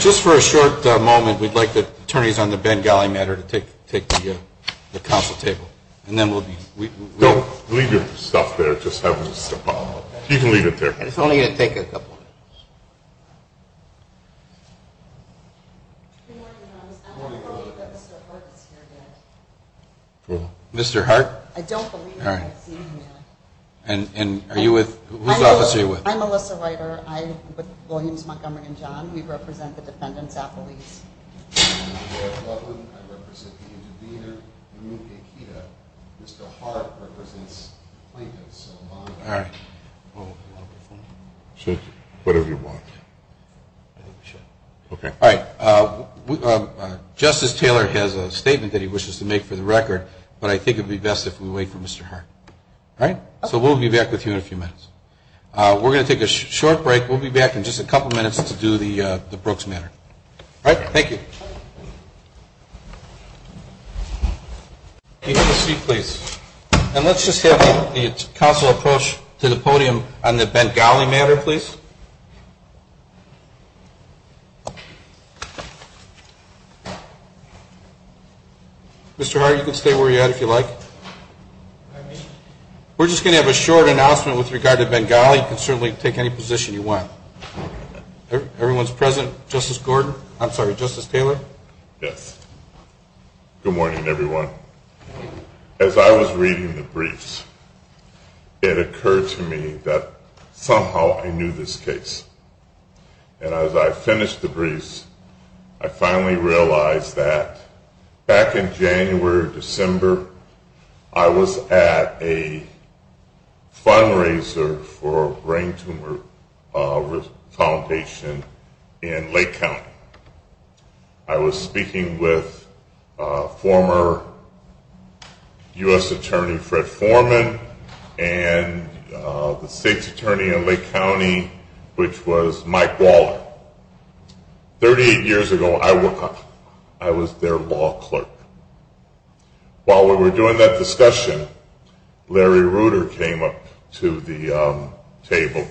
Just for a short moment, we'd like the attorneys on the Bengali matter to take the counsel table. And then we'll be, we don't leave your stuff there. Just have you can leave it there. It's only going to take a couple minutes. Mr. Hart. I don't believe. All right. And are you with? I'm Melissa Ryder. I'm with Williams Montgomery and John. We represent the defendants All right. Whatever you want. Okay. All right. Justice Taylor has a statement that he wishes to make for the record, but I think it'd be best if we wait for Mr. Hart. All right. So we'll be back with you in a few minutes. We're going to take a short break. We'll be back in just a couple minutes to do the Brooks matter. All right. Thank you. And let's just have the counsel approach to the podium on the Bengali matter, please. Mr. Hart, you can stay where you're at if you'd like. We're just going to have a short announcement with regard to Bengali. You can certainly take any position you want. Everyone's present? Justice Gould. Yes. Good morning, everyone. As I was reading the briefs, it occurred to me that somehow I knew this case. And as I finished the briefs, I finally realized that back in January, December, I was at a fundraiser for brain tumor foundation in Lake County. I was speaking with former U.S. Attorney Fred Foreman and the state's attorney in Lake County, which was Mike Waller. 38 years ago, I was their law clerk. While we were doing that discussion, Larry Ruder came up to the table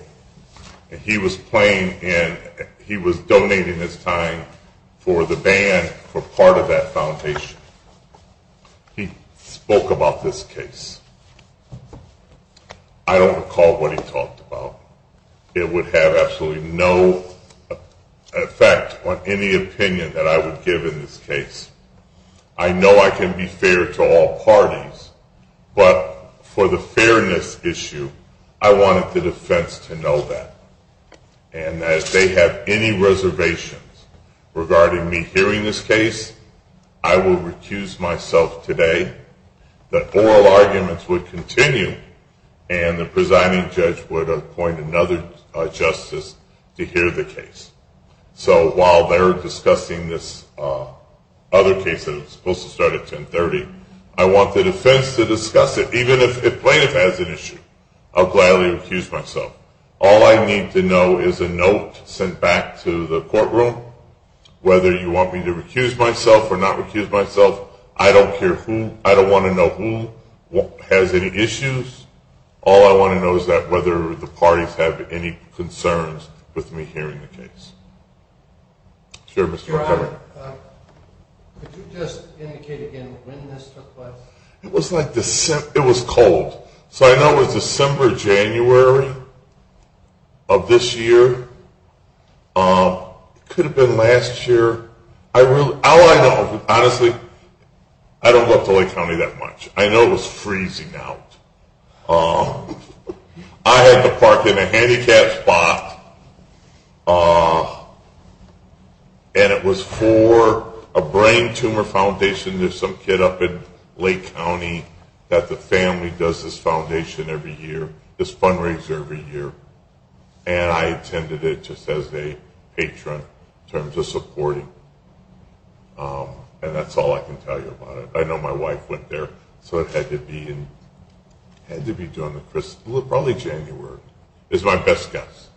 and he was playing and he was donating his time for the band for part of that foundation. He spoke about this case. I don't recall what he talked about. It would have absolutely no effect on any opinion that I would give in this case. I know I can be fair to all parties, but for the fairness issue, I wanted the defense to know that. And that if they have any reservations regarding me hearing this case, I will recuse myself today. The oral arguments would continue and the presiding judge would appoint another justice to hear the case. So while they're discussing this other case that was supposed to start at 1030, I want the defense to discuss it, even if the plaintiff has an issue. I'll gladly recuse myself. All I need to know is a note sent back to the courtroom, whether you want me to recuse myself or not recuse myself. I don't care who. I don't want to know who has any issues. All I want to know is whether the parties have any concerns with me hearing the case. Could you just indicate again when this took place? And it was for a brain tumor foundation. There's some kid up in Lake County that the family does this foundation every year, this fundraiser every year, and I attended it just as a patron in terms of supporting. And that's all I can tell you about it. I know my wife went there, so it had to be during the Christmas, probably January, is my best guess.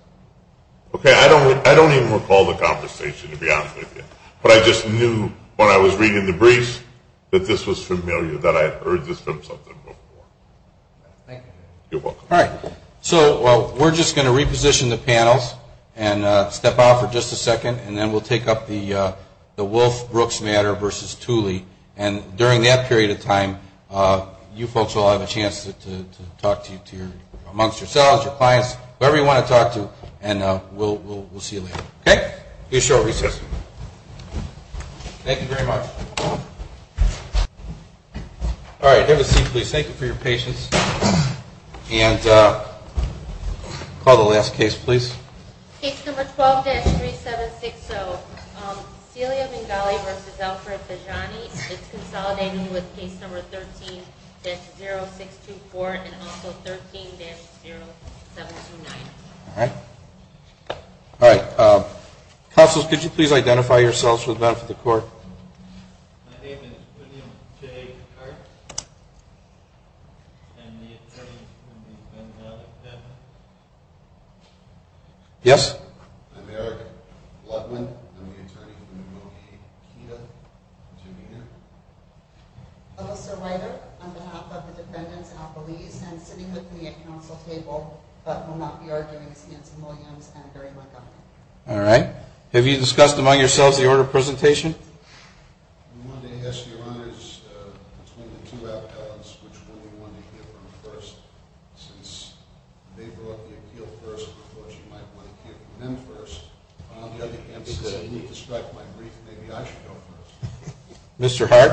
Okay, I don't even recall the conversation to be honest with you, but I just knew when I was reading the briefs that this was familiar, that I had heard this from someone before. All right, so we're just going to reposition the panels and step out for just a second, and then we'll take up the Wolfe-Brooks matter versus Tooley. And during that period of time, you folks will have a chance to talk amongst yourselves, your clients, whoever you want to talk to, and we'll see you later. Thank you very much. All right, have a seat, please. Thank you for your patience. And call the last case, please. Case number 12-3760, Celia Bengali versus Alfred Bejjani. It's consolidating with case number 13-0624 and also 13-0729. All right. All right. Counsel, could you please identify yourselves for the benefit of the court? My name is William J. Kirk. I'm the attorney for the Bengali family. Yes? I'm Eric Ludman. I'm the attorney for the Bengali. Kida, would you be here? Alyssa Ryder, on behalf of the defendants and the police, and sitting with me at counsel table, but will not be arguing, is Nancy Williams and Barry Montgomery. All right. Have you discussed among yourselves the order of presentation? Mr. Hart?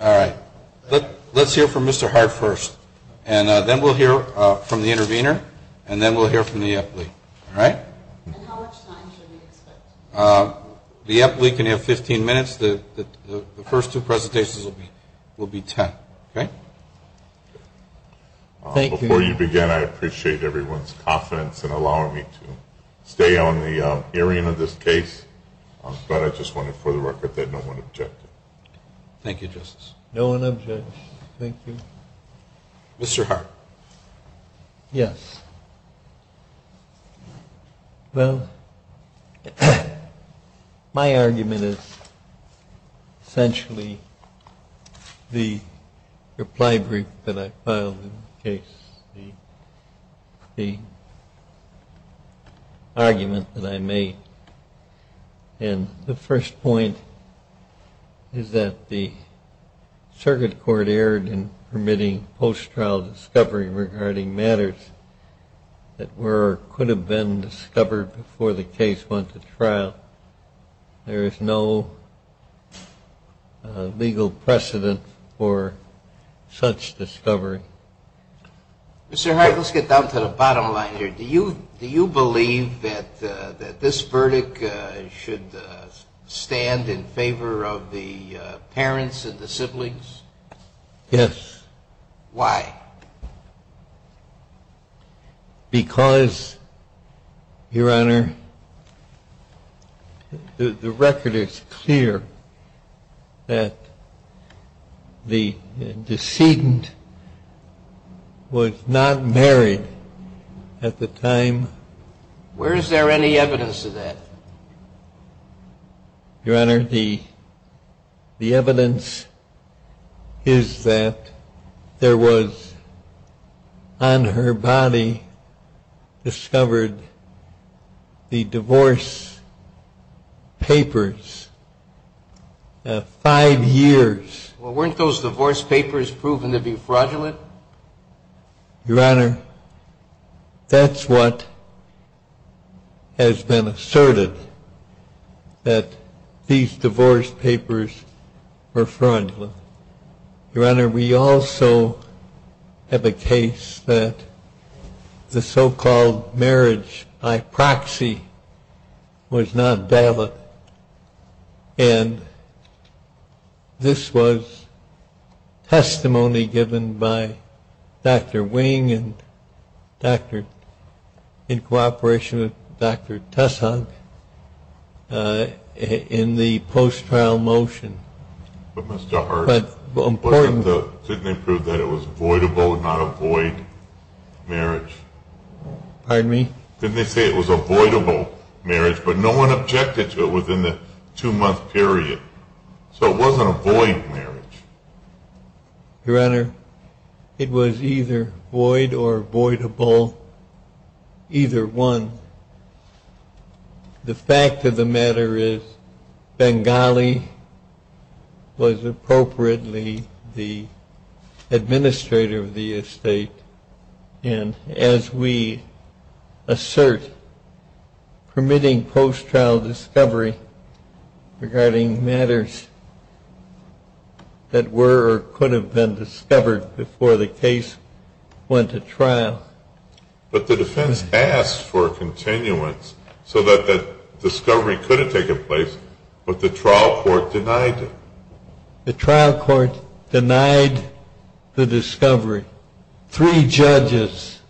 All right. Let's hear from Mr. Hart first, and then we'll hear from the intervener, and then we'll hear from the athlete. All right? And how much time should we expect? The athlete can have 15 minutes. The first two presentations will be 10, okay? Thank you. Before you begin, I appreciate everyone's confidence in allowing me to stay on the hearing of this case, but I just wanted for the record that no one objected. Thank you, Justice. No one objected. Thank you. Mr. Hart? Yes. Well, my argument is essentially the reply brief that I filed in the case, the argument that I made. And the first point is that the circuit court erred in permitting post-trial discovery regarding matters that were or could have been discovered before the case went to trial. There is no legal precedent for such discovery. Mr. Hart, let's get down to the bottom line here. Do you believe that this verdict should stand in favor of the parents and the siblings? Yes. Why? Because, Your Honor, the record is clear that the decedent was not married at the time. Where is there any evidence of that? Your Honor, the evidence is that there was on her body discovered the divorce papers at five years. Well, weren't those divorce papers proven to be fraudulent? Your Honor, that's what has been asserted, that these divorce papers were fraudulent. Your Honor, we also have a case that the so-called marriage by proxy was not valid. And this was testimony given by Dr. Wing in cooperation with Dr. Tesson in the post-trial motion. But, Mr. Hart, didn't they prove that it was avoidable, not avoid marriage? Pardon me? Didn't they say it was avoidable marriage, but no one objected to it within the two-month period. So it wasn't avoid marriage. Your Honor, it was either void or avoidable, either one. The fact of the matter is Bengali was appropriately the administrator of the estate. And as we assert, permitting post-trial discovery regarding matters that were or could have been discovered before the case went to trial. But the defense asked for continuance so that that discovery could have taken place, but the trial court denied it. The trial court denied the discovery. Three judges,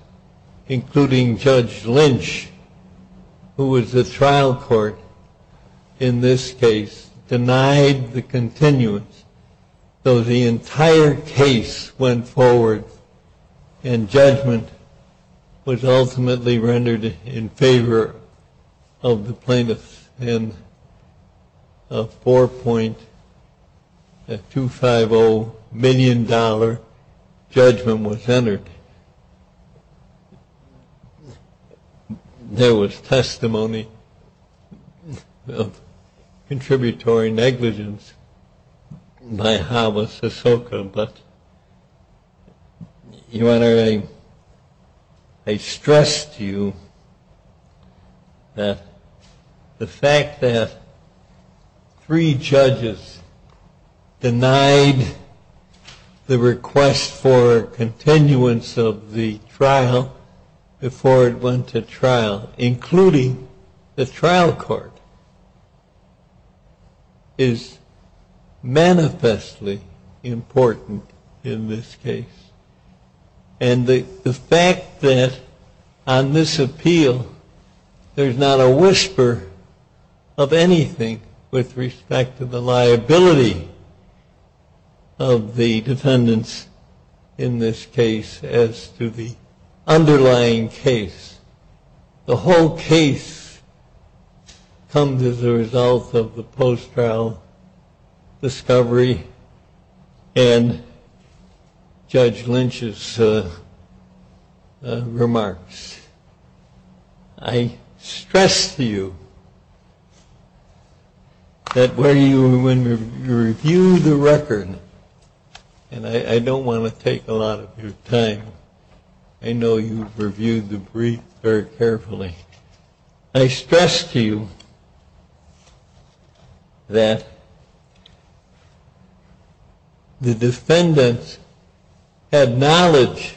including Judge Lynch, who was the trial court in this case, denied the continuance. So the entire case went forward and judgment was ultimately rendered in favor of the plaintiffs. And a $4.250 million judgment was entered. There was testimony of contributory negligence by Hama Sasoka, but, Your Honor, I stressed to you that the fact that three judges denied the request for continuance of the trial before it went to trial, including the trial court, is manifestly important in this case. And the fact that on this appeal there's not a whisper of anything with respect to the liability of the defendants in this case as to the underlying case. The whole case comes as a result of the post-trial discovery and Judge Lynch's remarks. I stress to you that when you review the record, and I don't want to take a lot of your time, I know you've reviewed the brief very carefully, I stress to you that the defendants had knowledge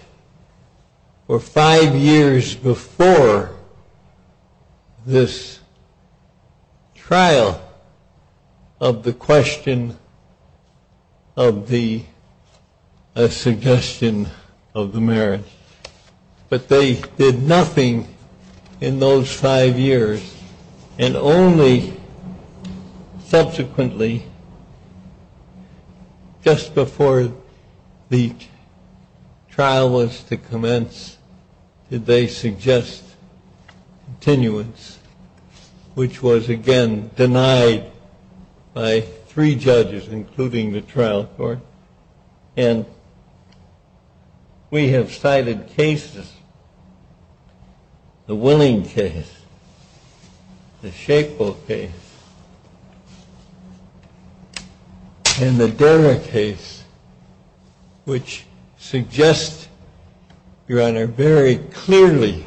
for five years before this trial of the question of the suggestion of the marriage. But they did nothing in those five years and only subsequently, just before the trial was to commence, did they suggest continuance, which was, again, denied by three judges, including the trial court. And we have cited cases, the Willing case, the Schaeffel case, and the Dera case, which suggest, Your Honor, very clearly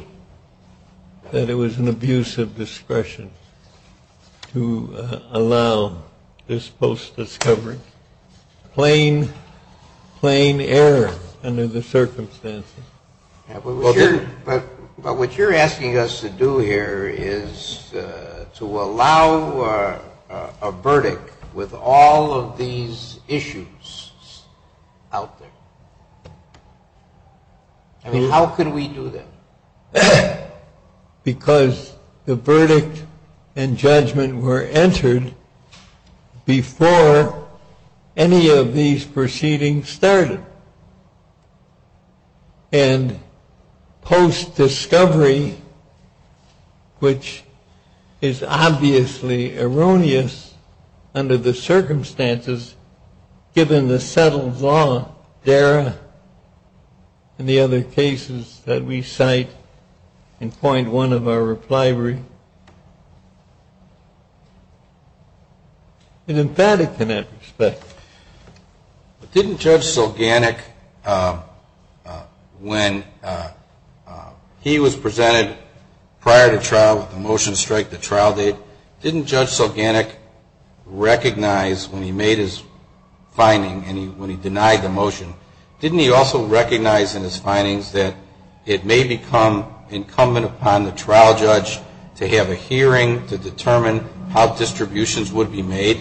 that it was an abuse of discretion to allow this post-discovery. Plain, plain error under the circumstances. But what you're asking us to do here is to allow a verdict with all of these issues out there. I mean, how could we do that? Because the verdict and judgment were entered before any of these proceedings started. And post-discovery, which is obviously erroneous under the circumstances, given the settled law, Dera, and the other cases that we cite in point one of our reply brief, is emphatic in that respect. But didn't Judge Sulganik, when he was presented prior to trial with the motion to strike the trial date, didn't Judge Sulganik recognize when he made his finding and when he denied the motion, didn't he also recognize in his findings that it may become incumbent upon the trial judge to have a hearing to determine how distributions would be made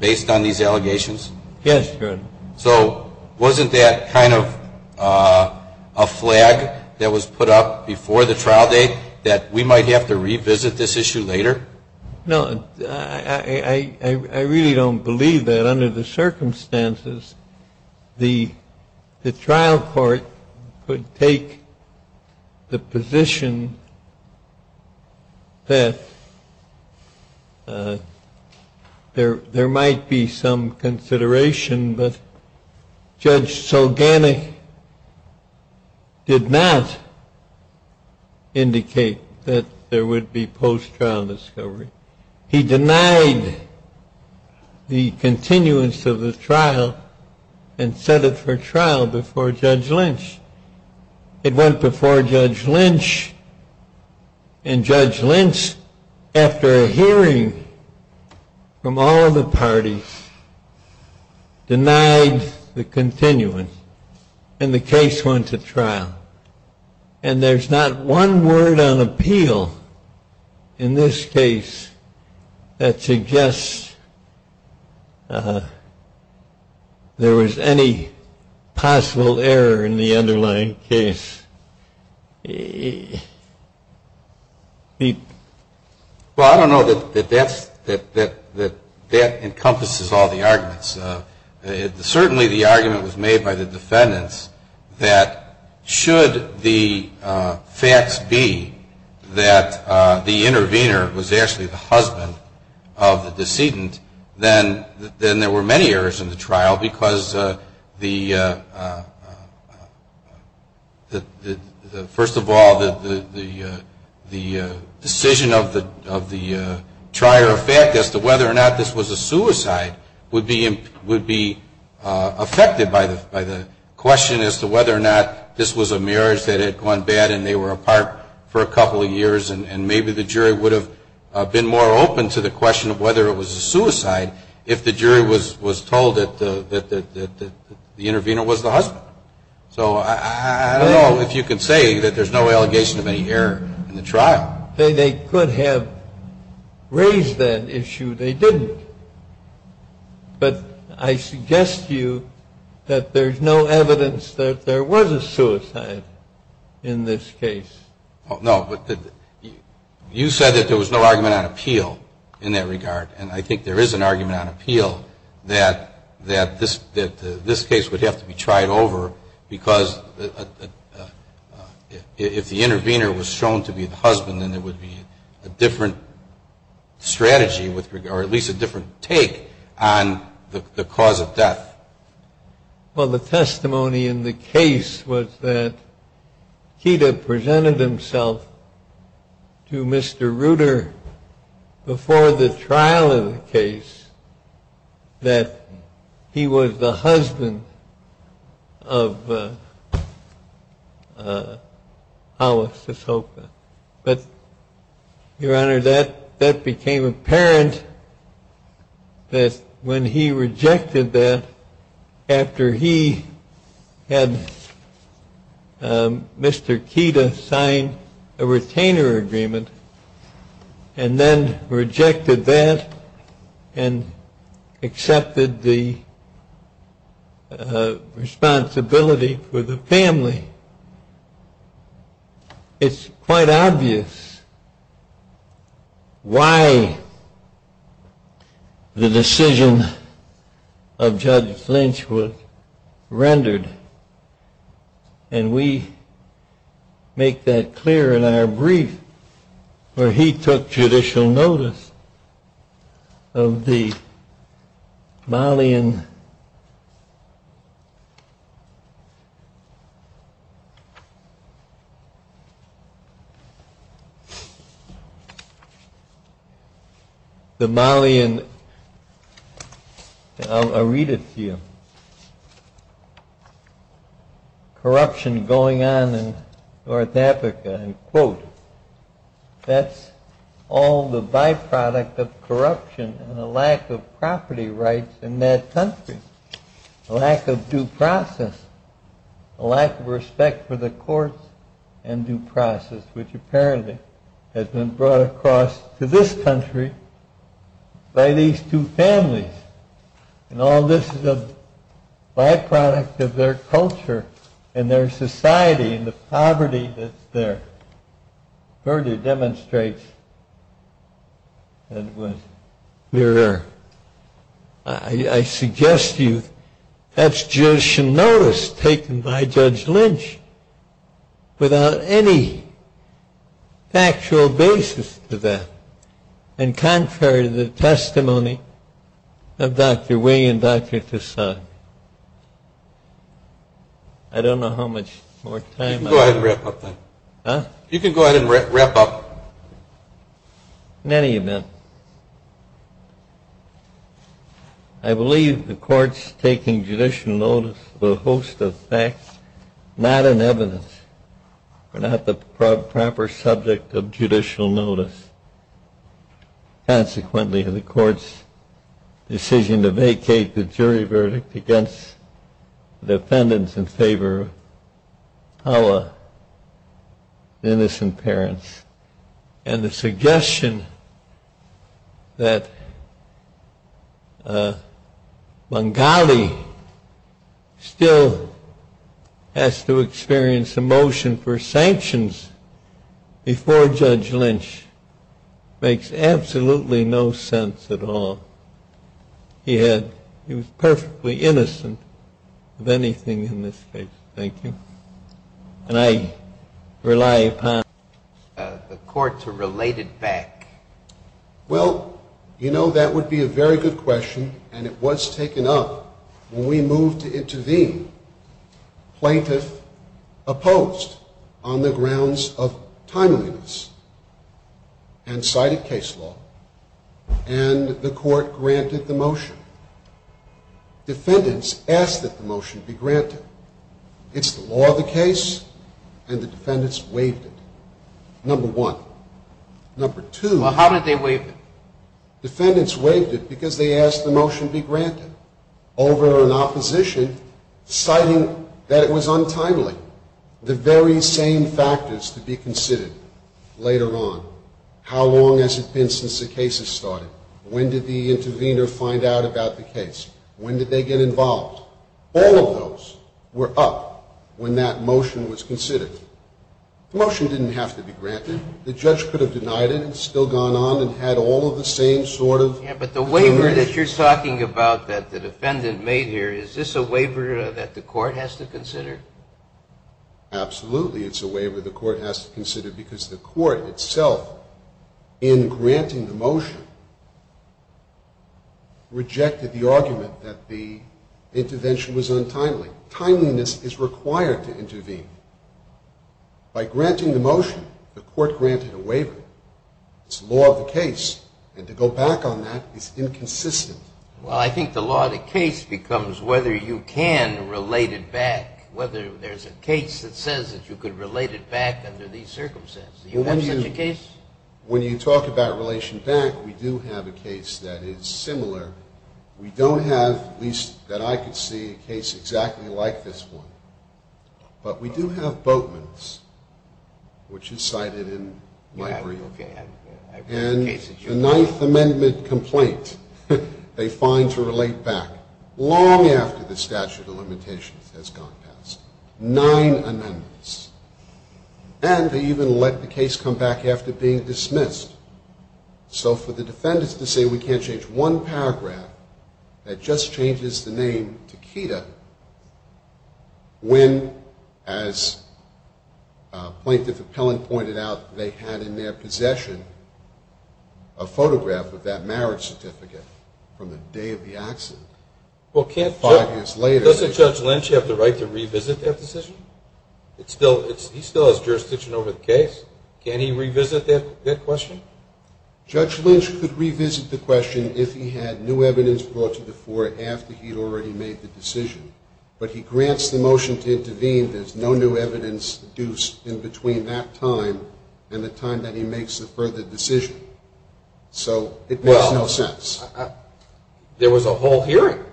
based on these allegations? Yes, Your Honor. So wasn't that kind of a flag that was put up before the trial date that we might have to revisit this issue later? No. I really don't believe that. Under the circumstances, the trial court could take the position that there might be some consideration, but Judge Sulganik did not indicate that there would be post-trial discovery. He denied the continuance of the trial and set it for trial before Judge Lynch. It went before Judge Lynch, and Judge Lynch, after a hearing from all of the parties, denied the continuance, and the case went to trial. And there's not one word on appeal in this case that suggests there was any possible error in the underlying case. Well, I don't know that that encompasses all the arguments. Certainly the argument was made by the defendants that should the facts be that the intervener was actually the husband of the decedent, then there were many errors in the trial because, first of all, the decision of the trier of fact as to whether or not this was a suicide would be affected by the question as to whether or not this was a marriage that had gone bad and they were apart for a couple of years, and maybe the jury would have been more open to the question of whether it was a suicide if the jury was told that the intervener was the husband. So I don't know if you can say that there's no allegation of any error in the trial. They could have raised that issue. They didn't. But I suggest to you that there's no evidence that there was a suicide in this case. No, but you said that there was no argument on appeal in that regard. And I think there is an argument on appeal that this case would have to be tried over because if the intervener was shown to be the husband, then there would be a different strategy or at least a different take on the cause of death. Well, the testimony in the case was that Keita presented himself to Mr. Ruder before the trial of the case that he was the husband of Alice Sosoka. But, Your Honor, that became apparent that when he rejected that after he had Mr. Keita sign a retainer agreement and then rejected that and accepted the responsibility for the family. It's quite obvious why the decision of Judge Flinch was rendered. And we make that clear in our brief where he took judicial notice of the Malian... I'll read it to you. Corruption going on in North Africa, and quote, that's all the byproduct of corruption and a lack of property rights in that country. A lack of due process. A lack of respect for the courts and due process, which apparently has been brought across to this country by these two families. And all this is a byproduct of their culture and their society and the poverty that's there. Further demonstrates that it was clearer. I suggest to you that's judicial notice taken by Judge Flinch without any factual basis to that, in contrary to the testimony of Dr. Wing and Dr. Tassad. I don't know how much more time I have. You can go ahead and wrap up then. Huh? You can go ahead and wrap up. In any event, I believe the court's taking judicial notice was a host of facts, not an evidence, or not the proper subject of judicial notice. Consequently, the court's decision to vacate the jury verdict against defendants in favor of Hala, the innocent parents, and the suggestion that Bengali still has to experience a motion for sanctions before Judge Flinch makes absolutely no sense at all. He was perfectly innocent of anything in this case. Thank you. And I rely upon the court to relate it back. Well, you know, that would be a very good question, and it was taken up when we moved to intervene. Plaintiff opposed on the grounds of timeliness and cited case law, and the court granted the motion. Defendants asked that the motion be granted. It's the law of the case, and the defendants waived it, number one. Well, how did they waive it? Defendants waived it because they asked the motion be granted over an opposition citing that it was untimely, the very same factors to be considered later on. How long has it been since the case has started? When did the intervener find out about the case? When did they get involved? All of those were up when that motion was considered. The motion didn't have to be granted. The judge could have denied it and still gone on and had all of the same sort of information. Yeah, but the waiver that you're talking about that the defendant made here, is this a waiver that the court has to consider? Absolutely it's a waiver the court has to consider because the court itself, in granting the motion, rejected the argument that the intervention was untimely. Timeliness is required to intervene. By granting the motion, the court granted a waiver. It's the law of the case, and to go back on that is inconsistent. Well, I think the law of the case becomes whether you can relate it back, whether there's a case that says that you could relate it back under these circumstances. Do you have such a case? When you talk about relation back, we do have a case that is similar. We don't have, at least that I could see, a case exactly like this one. But we do have Boatman's, which is cited in my brief. And the Ninth Amendment complaint, they find to relate back long after the statute of limitations has gone past. Nine amendments. And they even let the case come back after being dismissed. So for the defendants to say we can't change one paragraph that just changes the name to Keita, when, as Plaintiff Appellant pointed out, they had in their possession a photograph with that marriage certificate from the day of the accident, five years later. Well, can't Judge Lynch have the right to revisit that decision? He still has jurisdiction over the case. Can he revisit that question? Judge Lynch could revisit the question if he had new evidence brought to the fore after he'd already made the decision. But he grants the motion to intervene. There's no new evidence due in between that time and the time that he makes the further decision. So it makes no sense. There was a whole hearing.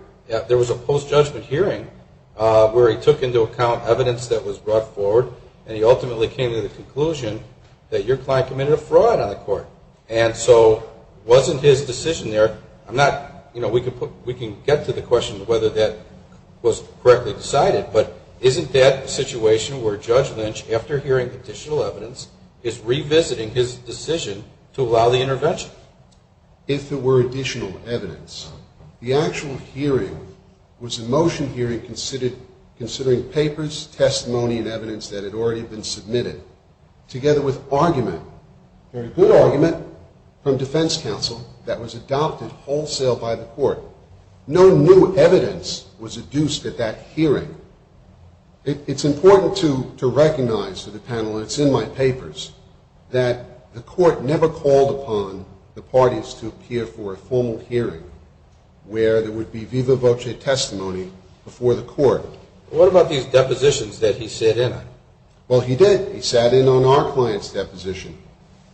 There was a post-judgment hearing where he took into account evidence that was brought forward, and he ultimately came to the conclusion that your client committed a fraud on the court. And so wasn't his decision there? I'm not, you know, we can get to the question of whether that was correctly decided, but isn't that the situation where Judge Lynch, after hearing additional evidence, is revisiting his decision to allow the intervention? If there were additional evidence, the actual hearing was a motion hearing considering papers, testimony, and evidence that had already been submitted, together with argument, very good argument, from defense counsel that was adopted wholesale by the court. No new evidence was adduced at that hearing. It's important to recognize to the panel, and it's in my papers, that the court never called upon the parties to appear for a formal hearing where there would be viva voce testimony before the court. What about these depositions that he sat in on? Well, he did. He sat in on our client's deposition.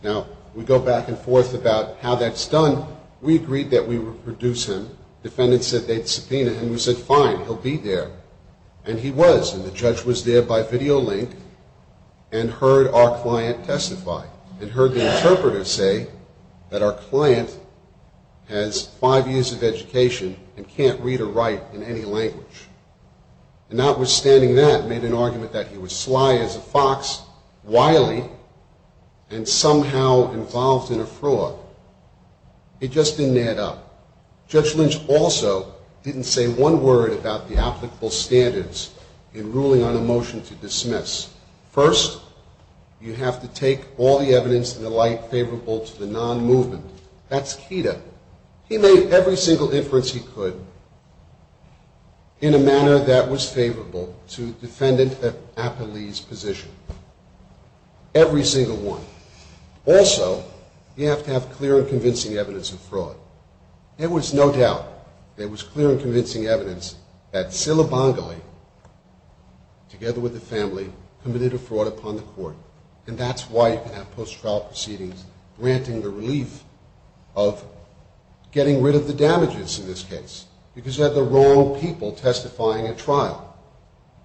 Now, we go back and forth about how that's done. We agreed that we would produce him. Defendants said they'd subpoena him. We said, fine, he'll be there. And he was, and the judge was there by video link and heard our client testify and heard the interpreter say that our client has five years of education and can't read or write in any language. And notwithstanding that, made an argument that he was sly as a fox, wily, and somehow involved in a fraud. It just didn't add up. Judge Lynch also didn't say one word about the applicable standards in ruling on a motion to dismiss. First, you have to take all the evidence in the light favorable to the non-movement. That's Keita. He made every single inference he could in a manner that was favorable to the defendant at Appalee's position, every single one. Also, you have to have clear and convincing evidence of fraud. There was no doubt. There was clear and convincing evidence that Silabongalee, together with the family, committed a fraud upon the court. And that's why you can have post-trial proceedings granting the relief of getting rid of the damages in this case, because you have the wrong people testifying at trial.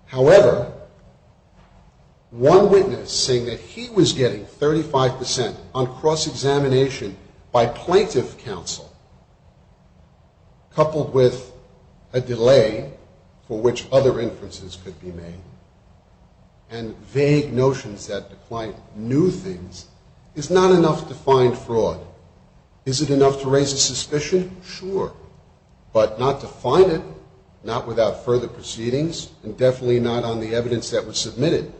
However, one witness, saying that he was getting 35% on cross-examination by plaintiff counsel, coupled with a delay for which other inferences could be made and vague notions that declined new things, is not enough to find fraud. Is it enough to raise a suspicion? Sure. But not to find it, not without further proceedings, and definitely not on the evidence that was submitted.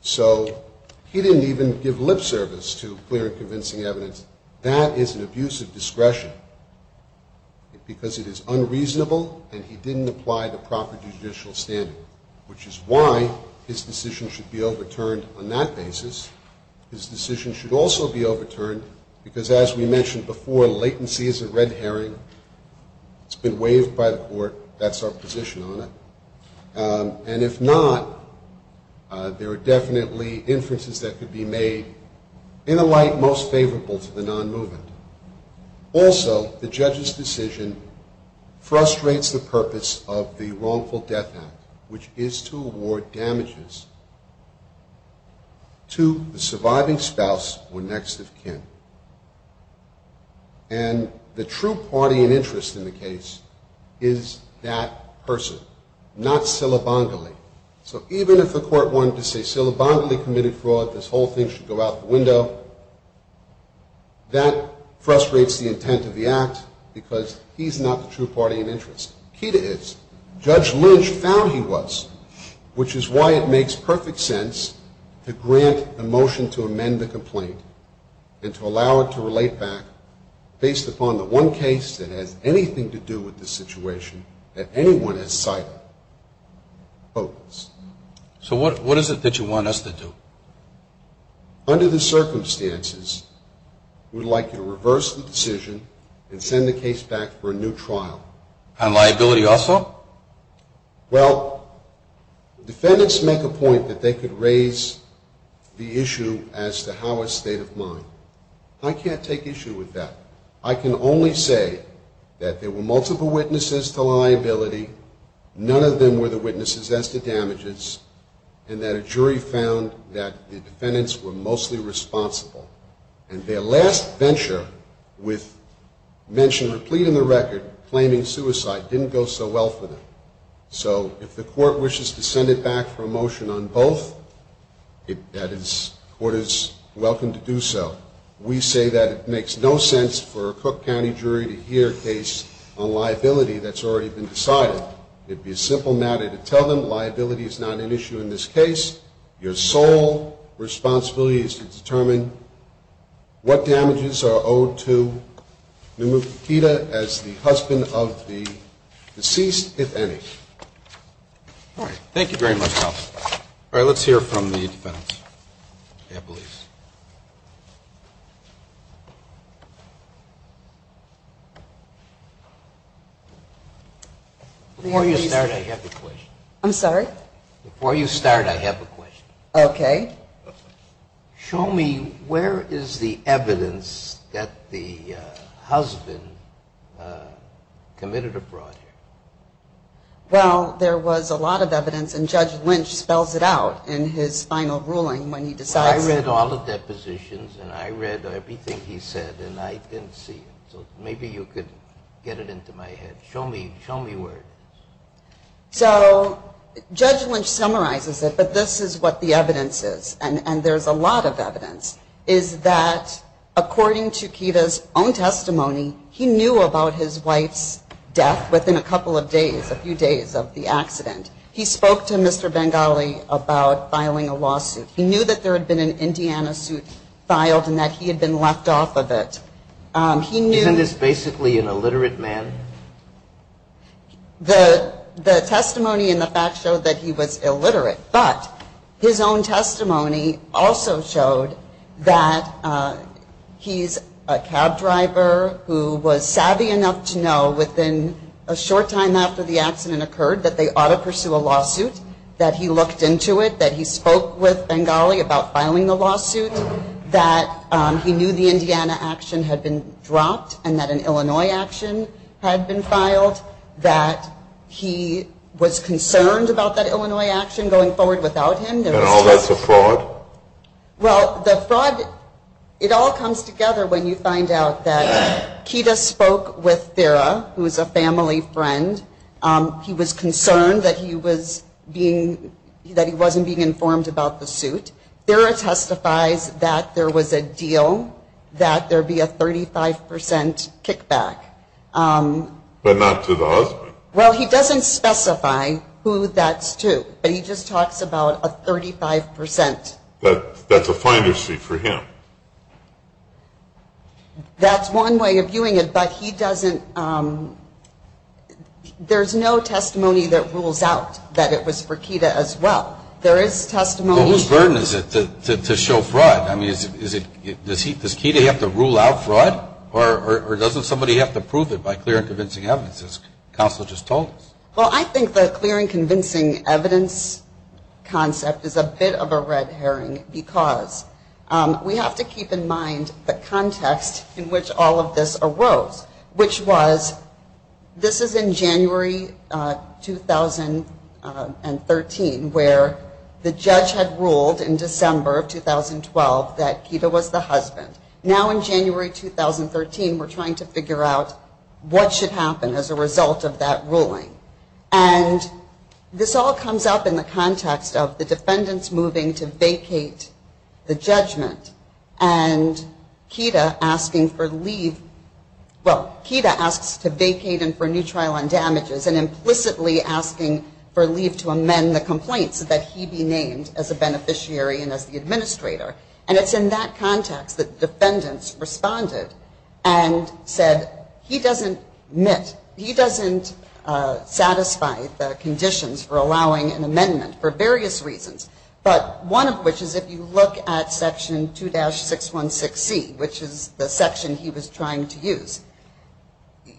So he didn't even give lip service to clear and convincing evidence. That is an abuse of discretion because it is unreasonable, and he didn't apply the proper judicial standard, which is why his decision should be overturned on that basis. His decision should also be overturned because, as we mentioned before, latency is a red herring. It's been waived by the court. That's our position on it. And if not, there are definitely inferences that could be made in a light most favorable to the non-movement. Also, the judge's decision frustrates the purpose of the Wrongful Death Act, which is to award damages to the surviving spouse or next of kin. And the true party and interest in the case is that person, not Silabongile. So even if the court wanted to say Silabongile committed fraud, this whole thing should go out the window, that frustrates the intent of the act because he's not the true party and interest. Key to this, Judge Lynch found he was, which is why it makes perfect sense to grant a motion to amend the complaint and to allow it to relate back based upon the one case that has anything to do with this situation that anyone has cited. So what is it that you want us to do? Under the circumstances, we'd like you to reverse the decision and send the case back for a new trial. On liability also? Well, defendants make a point that they could raise the issue as to how a state of mind. I can't take issue with that. I can only say that there were multiple witnesses to liability, none of them were the witnesses as to damages, and that a jury found that the defendants were mostly responsible. And their last venture with mention or plea in the record claiming suicide didn't go so well for them. So if the court wishes to send it back for a motion on both, that is, court is welcome to do so. We say that it makes no sense for a Cook County jury to hear a case on liability that's already been decided. It'd be a simple matter to tell them liability is not an issue in this case. Your sole responsibility is to determine what damages are owed to Namukita as the husband of the deceased, if any. All right. Thank you very much, counsel. All right. Let's hear from the defendants. Yeah, please. Before you start, I have a question. I'm sorry? Before you start, I have a question. Okay. Show me where is the evidence that the husband committed a brawl here? Well, there was a lot of evidence, and Judge Lynch spells it out in his final ruling when he decides. I read all the depositions, and I read everything he said, and I didn't see it. So maybe you could get it into my head. Show me where it is. So Judge Lynch summarizes it, but this is what the evidence is, and there's a lot of evidence, is that according to Kita's own testimony, he knew about his wife's death within a couple of days, a few days of the accident. He spoke to Mr. Bengali about filing a lawsuit. He knew that there had been an Indiana suit filed and that he had been left off of it. Isn't this basically an illiterate man? The testimony and the facts show that he was illiterate, but his own testimony also showed that he's a cab driver who was savvy enough to know within a short time after the accident occurred that they ought to pursue a lawsuit, that he looked into it, that he spoke with Bengali about filing a lawsuit, that he knew the Indiana action had been dropped and that an Illinois action had been filed, that he was concerned about that Illinois action going forward without him. And all that's a fraud? Well, the fraud, it all comes together when you find out that Kita spoke with Thera, who is a family friend. He was concerned that he wasn't being informed about the suit. Thera testifies that there was a deal that there be a 35% kickback. But not to the husband? Well, he doesn't specify who that's to, but he just talks about a 35%. That's a finder's sheet for him. That's one way of viewing it, but he doesn't – there's no testimony that rules out that it was for Kita as well. Well, whose burden is it to show fraud? I mean, does Kita have to rule out fraud? Or doesn't somebody have to prove it by clear and convincing evidence, as counsel just told us? Well, I think the clear and convincing evidence concept is a bit of a red herring because we have to keep in mind the context in which all of this arose, which was this is in January 2013, where the judge had ruled in December of 2012 that Kita was the husband. Now in January 2013, we're trying to figure out what should happen as a result of that ruling. And this all comes up in the context of the defendants moving to vacate the judgment and Kita asking for leave – well, Kita asks to vacate and for a new trial on damages and implicitly asking for leave to amend the complaint so that he be named as a beneficiary and as the administrator. And it's in that context that defendants responded and said he doesn't admit, he doesn't satisfy the conditions for allowing an amendment for various reasons, but one of which is if you look at Section 2-616C, which is the section he was trying to use,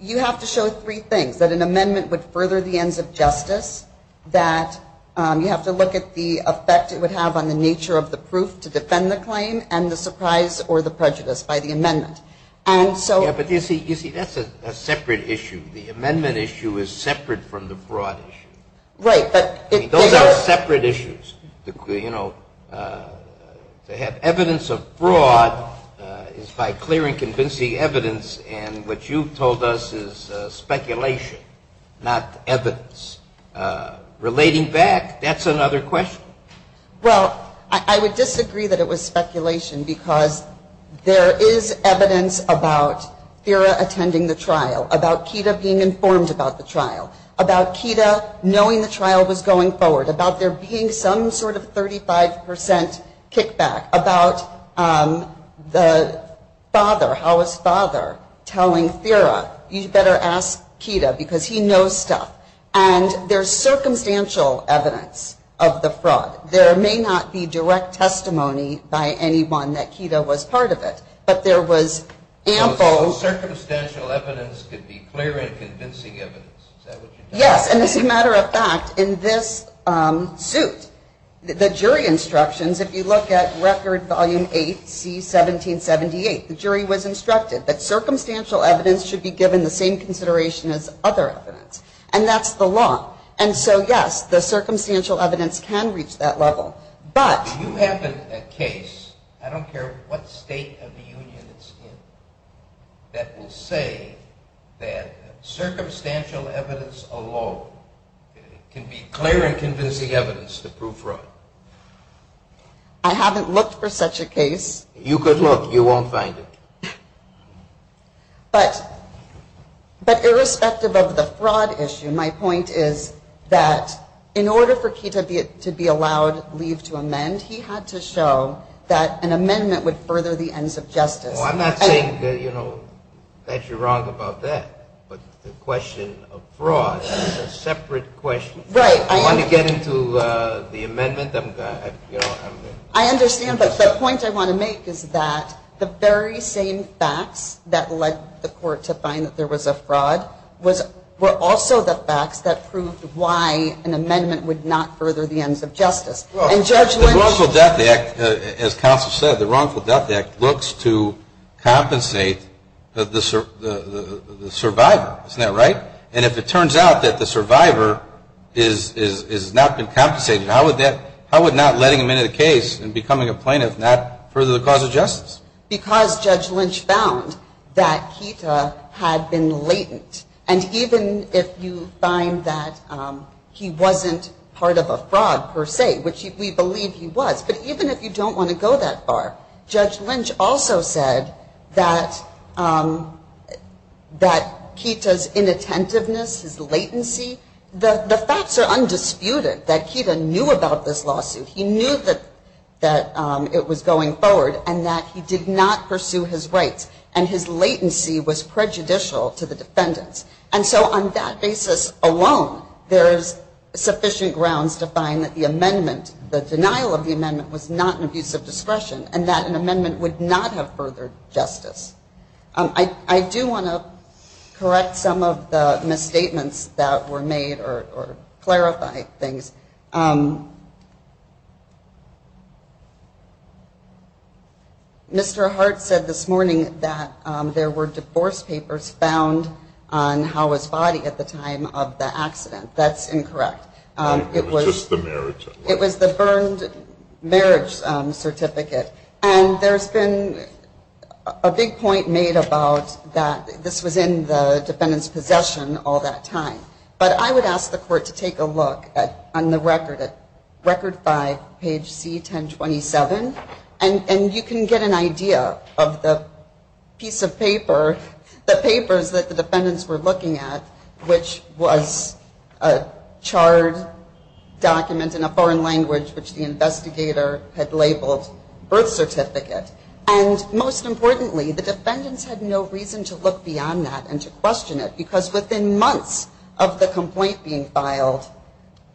you have to show three things, that an amendment would further the ends of justice, that you have to look at the effect it would have on the nature of the proof to defend the claim and the surprise or the prejudice by the amendment. But you see, that's a separate issue. The amendment issue is separate from the fraud issue. Those are separate issues. To have evidence of fraud is by clearing convincing evidence and what you've told us is speculation, not evidence. Relating back, that's another question. Well, I would disagree that it was speculation because there is evidence about Thera attending the trial, about Kita being informed about the trial, about Kita knowing the trial was going forward, about there being some sort of 35% kickback, about the father, Howa's father telling Thera, you better ask Kita because he knows stuff. There may not be direct testimony by anyone that Kita was part of it. Circumstantial evidence could be clear and convincing evidence. Yes, and as a matter of fact, in this suit, the jury instructions, if you look at Record Volume 8C-1778, the jury was instructed that circumstantial evidence should be given the same consideration as other evidence. And that's the law. And so, yes, the circumstantial evidence can reach that level. But you have a case, I don't care what state of the union it's in, that will say that circumstantial evidence alone can be clear and convincing evidence to prove fraud. I haven't looked for such a case. You could look. You won't find it. But irrespective of the fraud issue, my point is that in order for Kita to be allowed leave to amend, he had to show that an amendment would further the ends of justice. I'm not saying that you're wrong about that, but the question of fraud is a separate question. You want to get into the amendment? I understand, but the point I want to make is that the very same facts that led the court to find that there was a fraud were also the facts that proved why an amendment would not further the ends of justice. The Wrongful Death Act, as counsel said, the Wrongful Death Act looks to compensate the survivor. And if it turns out that the survivor has not been compensated, how would not letting him into the case and becoming a plaintiff not further the cause of justice? Because Judge Lynch found that Kita had been latent. And even if you find that he wasn't part of a fraud per se, which we believe he was, but even if you don't want to go that far, Judge Lynch also said that Kita's inattentiveness, his latency, the facts are undisputed that Kita knew about this lawsuit. He knew that it was going forward and that he did not pursue his rights. And his latency was prejudicial to the defendants. And so on that basis alone, there is sufficient grounds to find that the amendment, the denial of the amendment, was not an abuse of discretion and that an amendment would not have furthered justice. I do want to correct some of the misstatements that were made or clarify things. Mr. Hart said this morning that there were divorce papers found on Howa's body at the time of the accident. That's incorrect. It was the burned marriage certificate. And there's been a big point made about that this was in the defendant's possession all that time. But I would ask the court to take a look on the record at record five, page C1027. And you can get an idea of the piece of paper, the papers that the defendants were looking at, which was a charred document in a foreign language which the investigator had labeled birth certificate. And most importantly, the defendants had no reason to look beyond that and to question it because within months of the complaint being filed,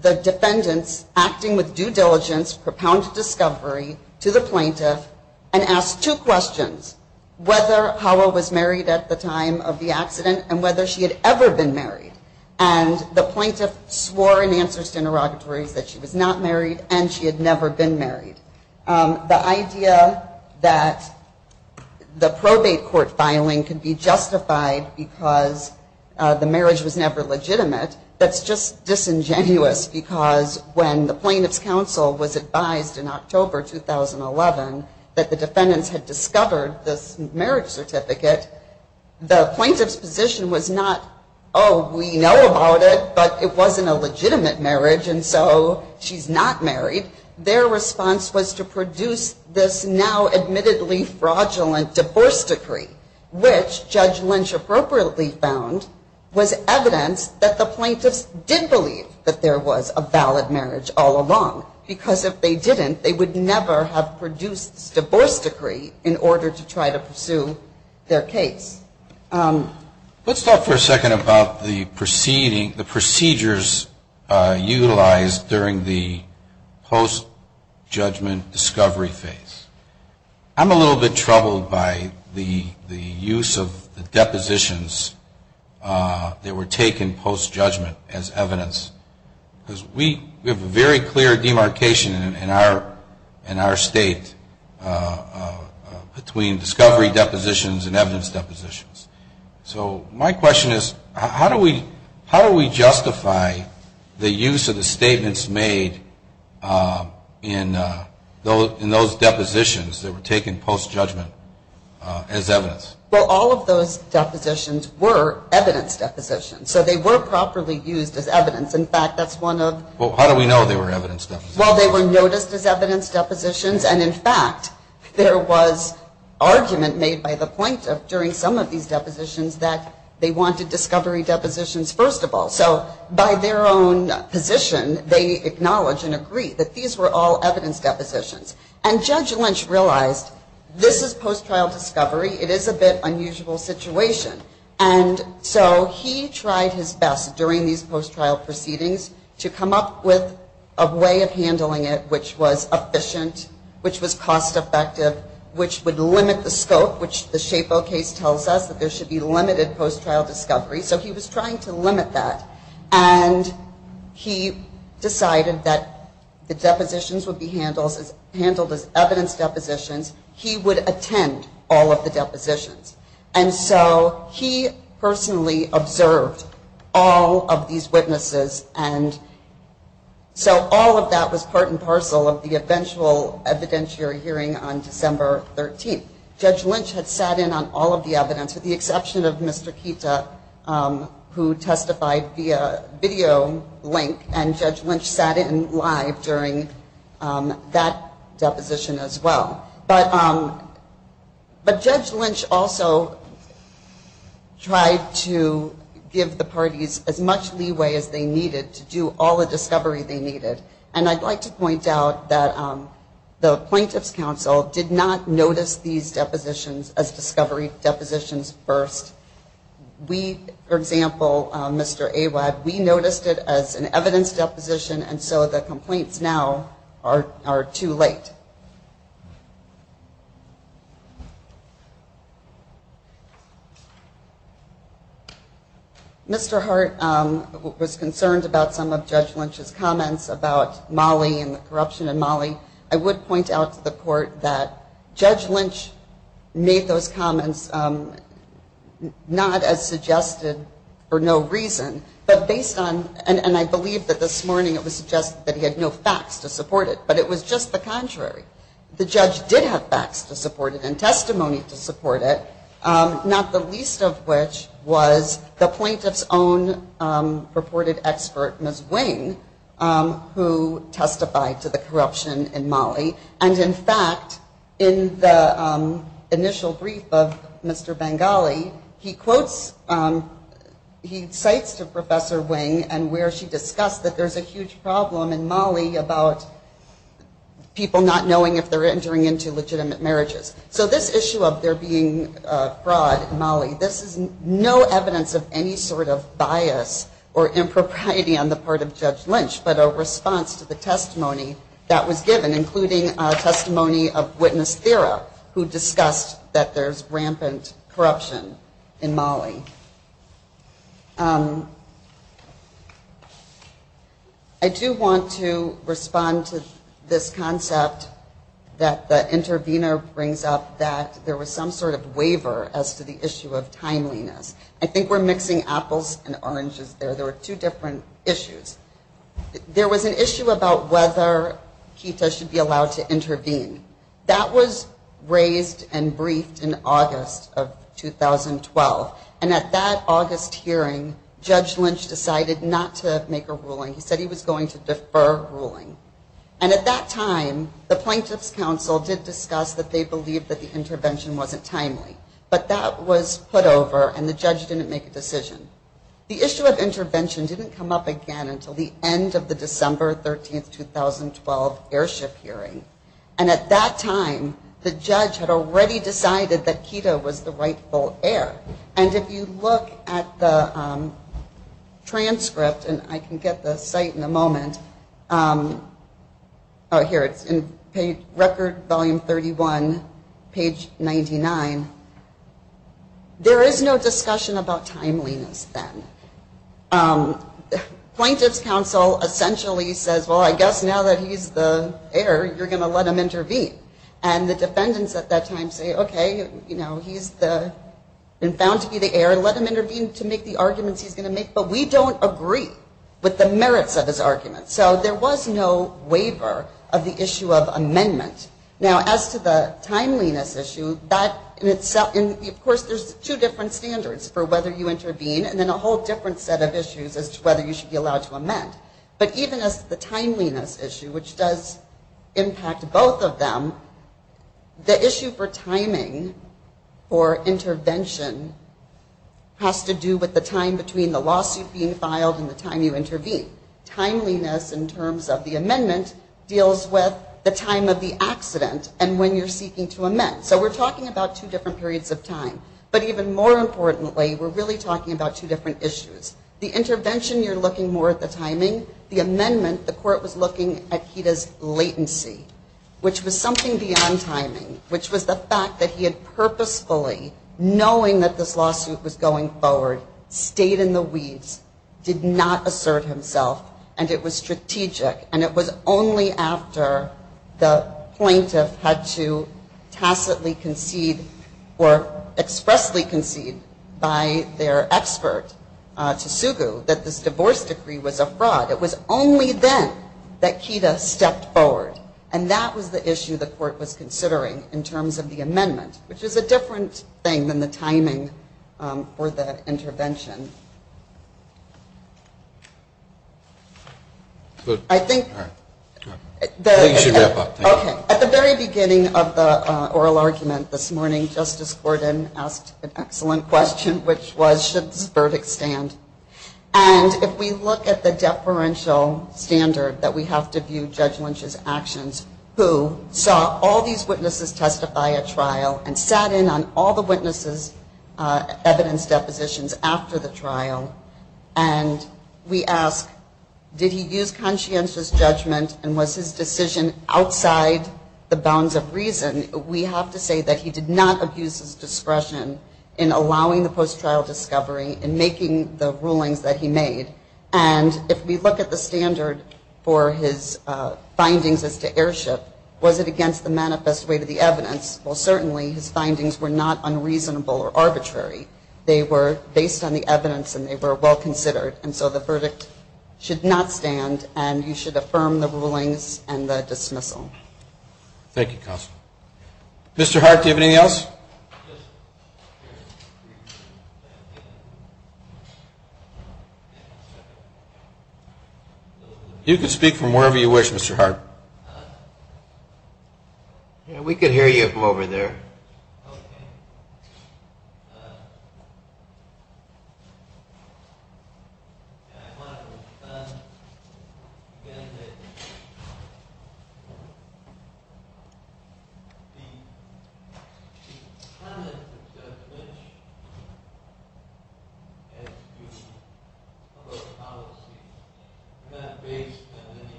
the defendants, acting with due diligence, propounded discovery to the plaintiff and asked two questions. Whether Howa was married at the time of the accident and whether she had ever been married. And the plaintiff swore in answers to interrogatories that she was not married and she had never been married. The idea that the probate court filing could be justified because the marriage was never legitimate, that's just disingenuous because when the plaintiff's counsel was advised in October 2011 that the defendants had discovered this marriage and that she knew about it but it wasn't a legitimate marriage and so she's not married, their response was to produce this now admittedly fraudulent divorce decree, which Judge Lynch appropriately found was evidence that the plaintiffs did believe that there was a valid marriage all along. Because if they didn't, they would never have produced this divorce decree in order to try to pursue their case. Let's talk for a second about the procedures utilized during the post-judgment discovery phase. I'm a little bit troubled by the use of the depositions that were taken post-judgment as evidence because we have a very clear demarcation in our state between discovery depositions and evidence depositions. So my question is how do we justify the use of the statements made in those depositions that were taken post-judgment as evidence? Well, all of those depositions were evidence depositions. So they were properly used as evidence. In fact, that's one of... Well, how do we know they were evidence depositions? Well, they were noticed as evidence depositions. And in fact, there was argument made by the plaintiff during some of these depositions that they wanted discovery depositions first of all. So by their own position, they acknowledge and agree that these were all evidence depositions. And Judge Lynch realized, this is post-trial discovery. It is a bit unusual situation. And so he tried his best during these post-trial proceedings to come up with a way of handling it, which was efficient, which was cost-effective, which would limit the scope, which the Shapo case tells us that there should be limited post-trial discovery. So he was trying to limit that. And he decided that the depositions would be handled as evidence depositions. He would attend all of the depositions. And so he personally observed all of these witnesses. And so all of that was brought to his attention. And he said, well, if you don't mind, I'd like to be a part and parcel of the eventual evidentiary hearing on December 13th. Judge Lynch had sat in on all of the evidence, with the exception of Mr. Kita, who testified via video link. And Judge Lynch sat in live during that deposition as well. But Judge Lynch also tried to give the parties as much leeway as they needed to do all of the discovery they needed. And I'd like to point out that the plaintiff's counsel did not notice these depositions as discovery depositions first. We, for example, Mr. Awad, we noticed it as an evidence deposition. And so the complaints now are too late. Mr. Hart was concerned about some of Judge Lynch's comments about Mollie and the corruption in Mollie. I would point out to the court that Judge Lynch made those comments not as suggested for no reason. But based on, and I believe that this morning it was suggested that he had no facts to support it. But it was just the contrary. The judge did have facts to support it and testimony to support it, not the least of which was the plaintiff's own purported expert, Ms. Wing, who testified to the corruption in Mollie. And in fact, in the initial brief of Mr. Bengali, he quotes, he discussed that there's a huge problem in Mollie about people not knowing if they're entering into legitimate marriages. So this issue of there being fraud in Mollie, this is no evidence of any sort of bias or impropriety on the part of Judge Lynch, but a response to the testimony that was given, including testimony of Witness Thera, who discussed that there's rampant corruption in Mollie. I do want to respond to this concept that the intervener brings up, that there was some sort of waiver as to the issue of timeliness. I think we're mixing apples and oranges there. There were two different issues. There was an issue about whether KETA should be allowed to intervene. That was raised and briefed in August of 2012. And at that August hearing, Judge Lynch decided not to make an intervention. He said, no, we're not going to intervene. We're not going to make a ruling. He said he was going to defer ruling. And at that time, the Plaintiffs' Council did discuss that they believed that the intervention wasn't timely. But that was put over and the judge didn't make a decision. The issue of intervention didn't come up again until the end of the December 13, 2012 airship hearing. And at that time, the judge had already decided that KETA was the rightful heir. And if you look at the transcript, and I can get the site in a moment, oh, here it's in record volume 31, page 99, there is no discussion about timeliness then. The Plaintiffs' Council essentially says, well, I guess now that he's the heir, you're going to let him intervene. And the defendants at that time say, okay, he's been sworn to be the heir, let him intervene to make the arguments he's going to make. But we don't agree with the merits of his arguments. So there was no waiver of the issue of amendment. Now, as to the timeliness issue, that in itself, of course, there's two different standards for whether you intervene. And then a whole different set of issues as to whether you should be allowed to amend. But even as to the timeliness issue, which does impact both of them, the timeliness issue has to do with the time between the lawsuit being filed and the time you intervene. Timeliness in terms of the amendment deals with the time of the accident and when you're seeking to amend. So we're talking about two different periods of time. But even more importantly, we're really talking about two different issues. The intervention, you're looking more at the timing. The amendment, the court was looking at KETA's latency, which was something beyond timing, which was the fact that he had purposefully, knowing that this lawsuit was going forward, stayed in the weeds, did not assert himself, and it was strategic. And it was only after the plaintiff had to tacitly concede or expressly concede by their expert, Tasugu, that this divorce decree was a fraud. It was only then that KETA stepped forward. And that was the issue the court was considering in terms of the amendment, which is a different thing than the timing for the intervention. I think at the very beginning of the oral argument this morning, Justice Gordon asked an excellent question, which was, should this verdict stand? And if we look at the deferential standard that we have to view Judge Lynch's actions, who saw all these witnesses testify at trial and sat in on all the witnesses' evidence depositions after the trial, and we ask, did he use conscientious judgment and was his decision outside the bounds of reason, we have to say that he did not abuse his discretion in allowing the defendant to testify, in allowing the post-trial discovery, in making the rulings that he made. And if we look at the standard for his findings as to airship, was it against the manifest weight of the evidence? Well, certainly his findings were not unreasonable or arbitrary. They were based on the evidence and they were well considered. And so the verdict should not stand, and you should affirm the rulings and the dismissal. Thank you, Counsel. Mr. Hart, do you have anything else? You can speak from wherever you wish, Mr. Hart. The comment that Judge Lynch has given about the policy is not based on any evidentiary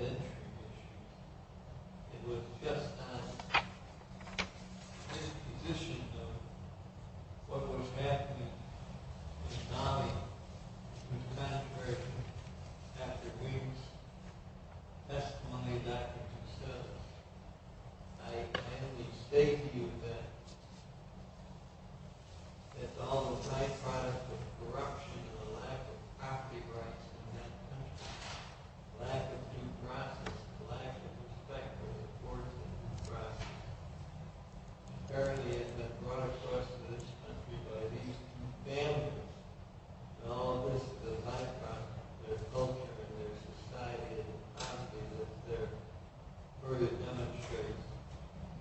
issue. It was just on the imposition of what was happening in the country. And I think that's one way that can be settled. I can only state to you that it's all the byproduct of corruption and the lack of property rights in that country, the lack of due process, the lack of respect for the court and due process. Apparently it's been brought to this country by these two families, and all this is a byproduct. Their culture, their society isn't positive. But their verdict demonstrates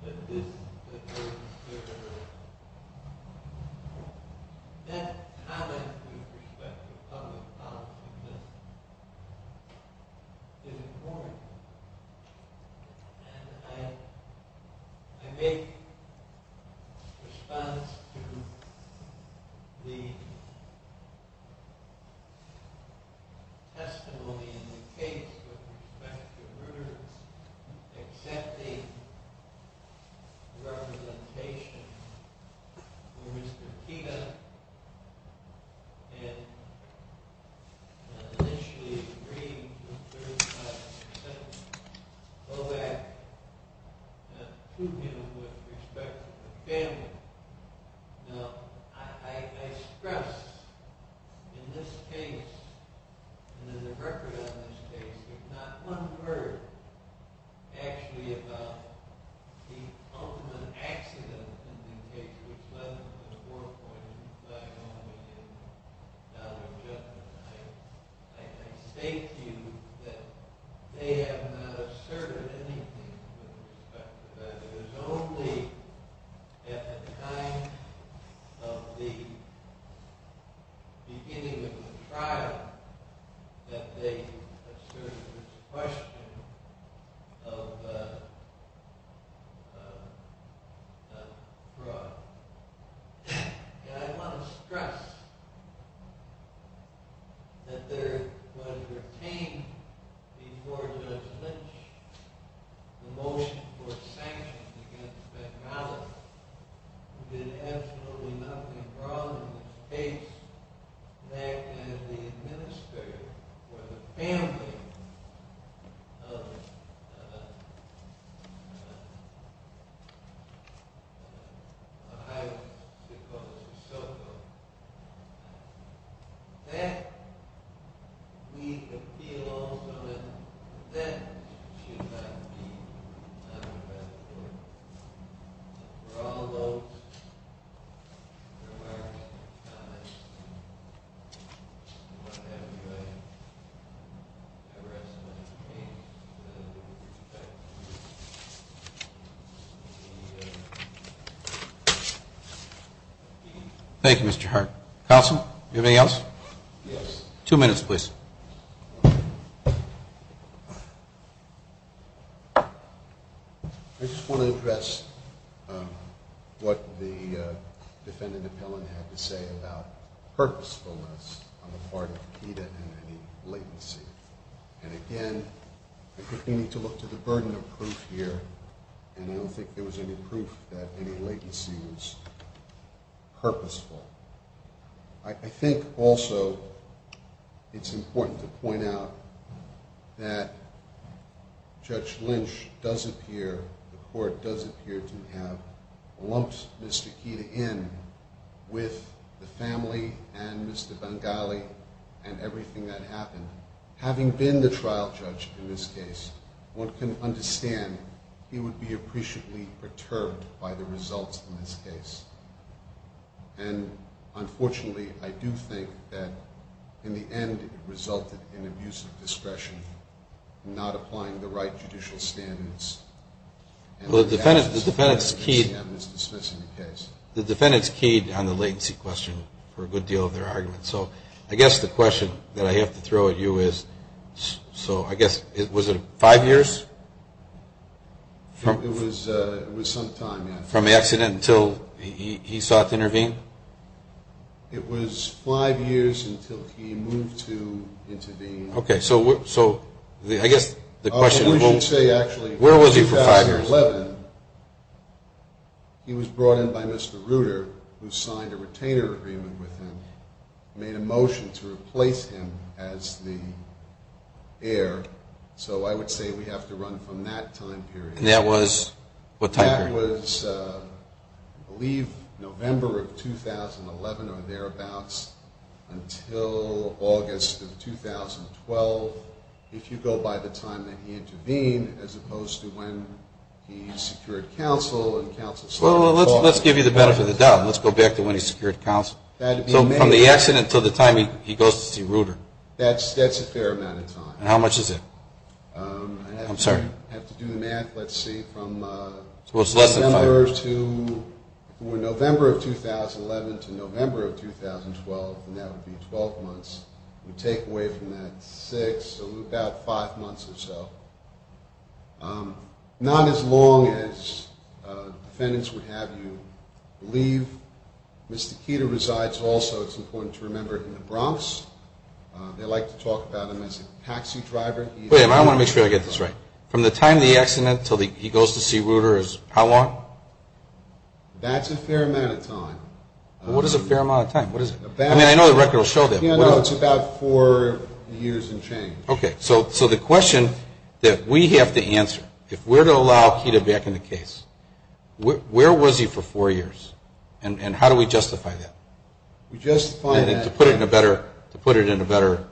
that this is a very serious issue. That comment with respect to public policy is important, and I make a response to the testimony in the case with respect to the accepting representation for Mr. Pena, and initially agreeing to 35% go back to him with respect to the family. Now, I stress in this case, and in the record on this case, there's not one word actually about the ultimate accident in the case which led to the war point. I can say to you that they have not asserted anything with respect to that. It was only at the time of the beginning of the trial that they asserted this question of fraud. Now, I want to stress that there was retained before Judge Lynch the motion for sanctions against Bengali, who did absolutely nothing wrong in this case, that as the administrator for the family, I was supposed to soak up, that we could feel also that that should not be under-reported. We're all alone. Thank you, Mr. Hart. Counsel, do you have anything else? Yes. Two minutes, please. I just want to address what the defendant appellant had to say about purposefulness on the part of Pena and any latency. And again, I think we need to look to the burden of proof here, and I don't think there was any proof that any latency was purposeful. I think also it's important to point out that Judge Lynch does appear, the court does appear, to have lumped Mr. Keita in with the family and Mr. Bengali and everything that happened. Having been the trial judge in this case, one can understand he would be appreciably perturbed by the results in this case. And unfortunately, I do think that in the end it resulted in abuse of discretion, not applying the right judicial standards. The defendant's keyed on the latency question for a good deal of their argument. So I guess the question that I have to throw at you is, so I guess, was it five years? It was some time. From the accident until he sought to intervene? It was five years until he moved to intervene. Okay, so I guess the question, where was he for five years? I would say actually in 2011, he was brought in by Mr. Reuter, who signed a retainer agreement with him, made a motion to replace him as the heir, so I would say we have to run from that time period. And that was what time period? That was, I believe, November of 2011 or thereabouts until August of 2012. If you go by the time that he intervened, as opposed to when he secured counsel and counsel sought to call. Well, let's give you the benefit of the doubt. Let's go back to when he secured counsel. So from the accident until the time he goes to see Reuter? That's a fair amount of time. And how much is it? I'm sorry? I have to do the math. Let's see, from November of 2011 to November of 2012, and that would be 12 months. We take away from that six, so about five months or so. Not as long as defendants would have you leave. Mr. Keeter resides also, it's important to remember, in the Bronx. They like to talk about him as a taxi driver. I want to make sure I get this right. From the time of the accident until he goes to see Reuter is how long? That's a fair amount of time. What is a fair amount of time? I mean, I know the record will show that. It's about four years and change. Okay, so the question that we have to answer, if we're to allow Keeter back in the case, where was he for four years? And how do we justify that? To put it in a better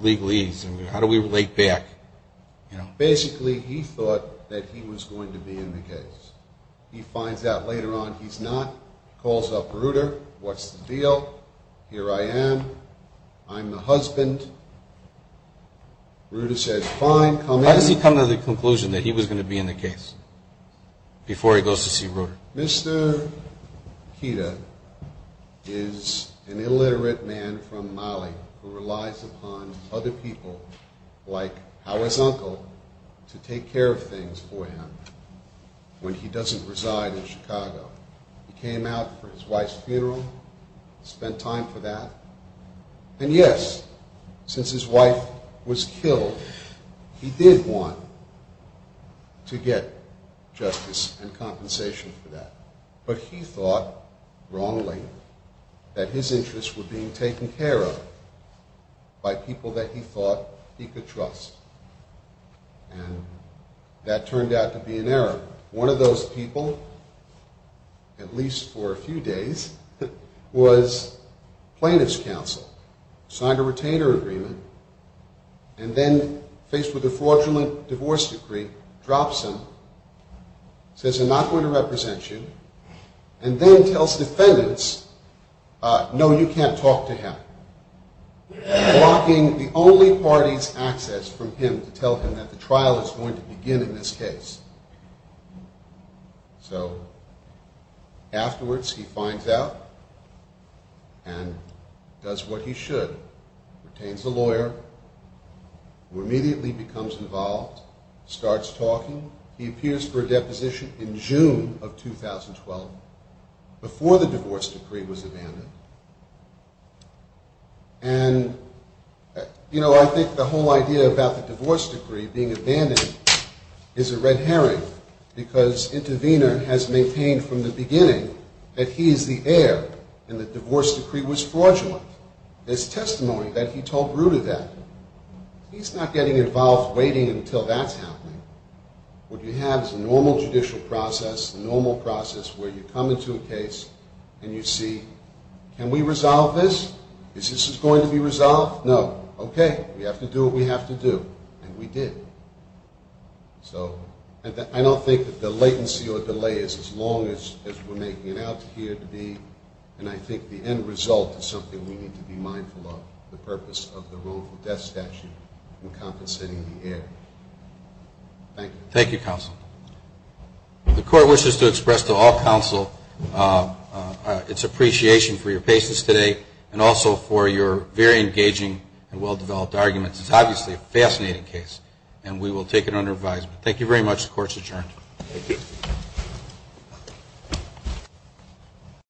legalese, how do we relate back? Basically, he thought that he was going to be in the case. He finds out later on he's not, calls up Reuter, what's the deal? Here I am, I'm the husband. Reuter says, fine, come in. How does he come to the conclusion that he was going to be in the case before he goes to see Reuter? Mr. Keeter is an illiterate man from Mali who relies upon other people, like Howard's uncle, to take care of things for him when he doesn't reside in Chicago. He came out for his wife's funeral, spent time for that. And yes, since his wife was killed, he did want to get justice and compensation for that. But he thought, wrongly, that his interests were being taken care of by people that he thought he could trust. And that turned out to be an error. One of those people, at least for a few days, was plaintiff's counsel, signed a retainer agreement, and then, faced with a fraudulent divorce decree, drops him, says, I'm not going to represent you, and then tells defendants, no, you can't talk to him, blocking the only party's access from him to tell him that the trial is going to begin in this case. So, afterwards, he finds out and does what he should. Retains a lawyer, who immediately becomes involved, starts talking. He appears for a deposition in June of 2012, before the divorce decree was abandoned. And, you know, I think the whole idea about the divorce decree being abandoned is a red herring, because Intervenor has maintained from the beginning that he is the heir, and the divorce decree was fraudulent. There's testimony that he told Bruder that. He's not getting involved, waiting until that's happening. What you have is a normal judicial process, a normal process, where you come into a case, and you see, can we resolve this? Is this going to be resolved? No. Okay, we have to do what we have to do, and we did. So, I don't think that the latency or delay is as long as we're making it out here to be, and I think the end result is something we need to be mindful of, the purpose of the wrongful death statute in compensating the heir. Thank you. Thank you, counsel. The court wishes to express to all counsel its appreciation for your patience today, and also for your very engaging and well-developed arguments. It's obviously a fascinating case, and we will take it under advisement. Thank you very much. The court is adjourned.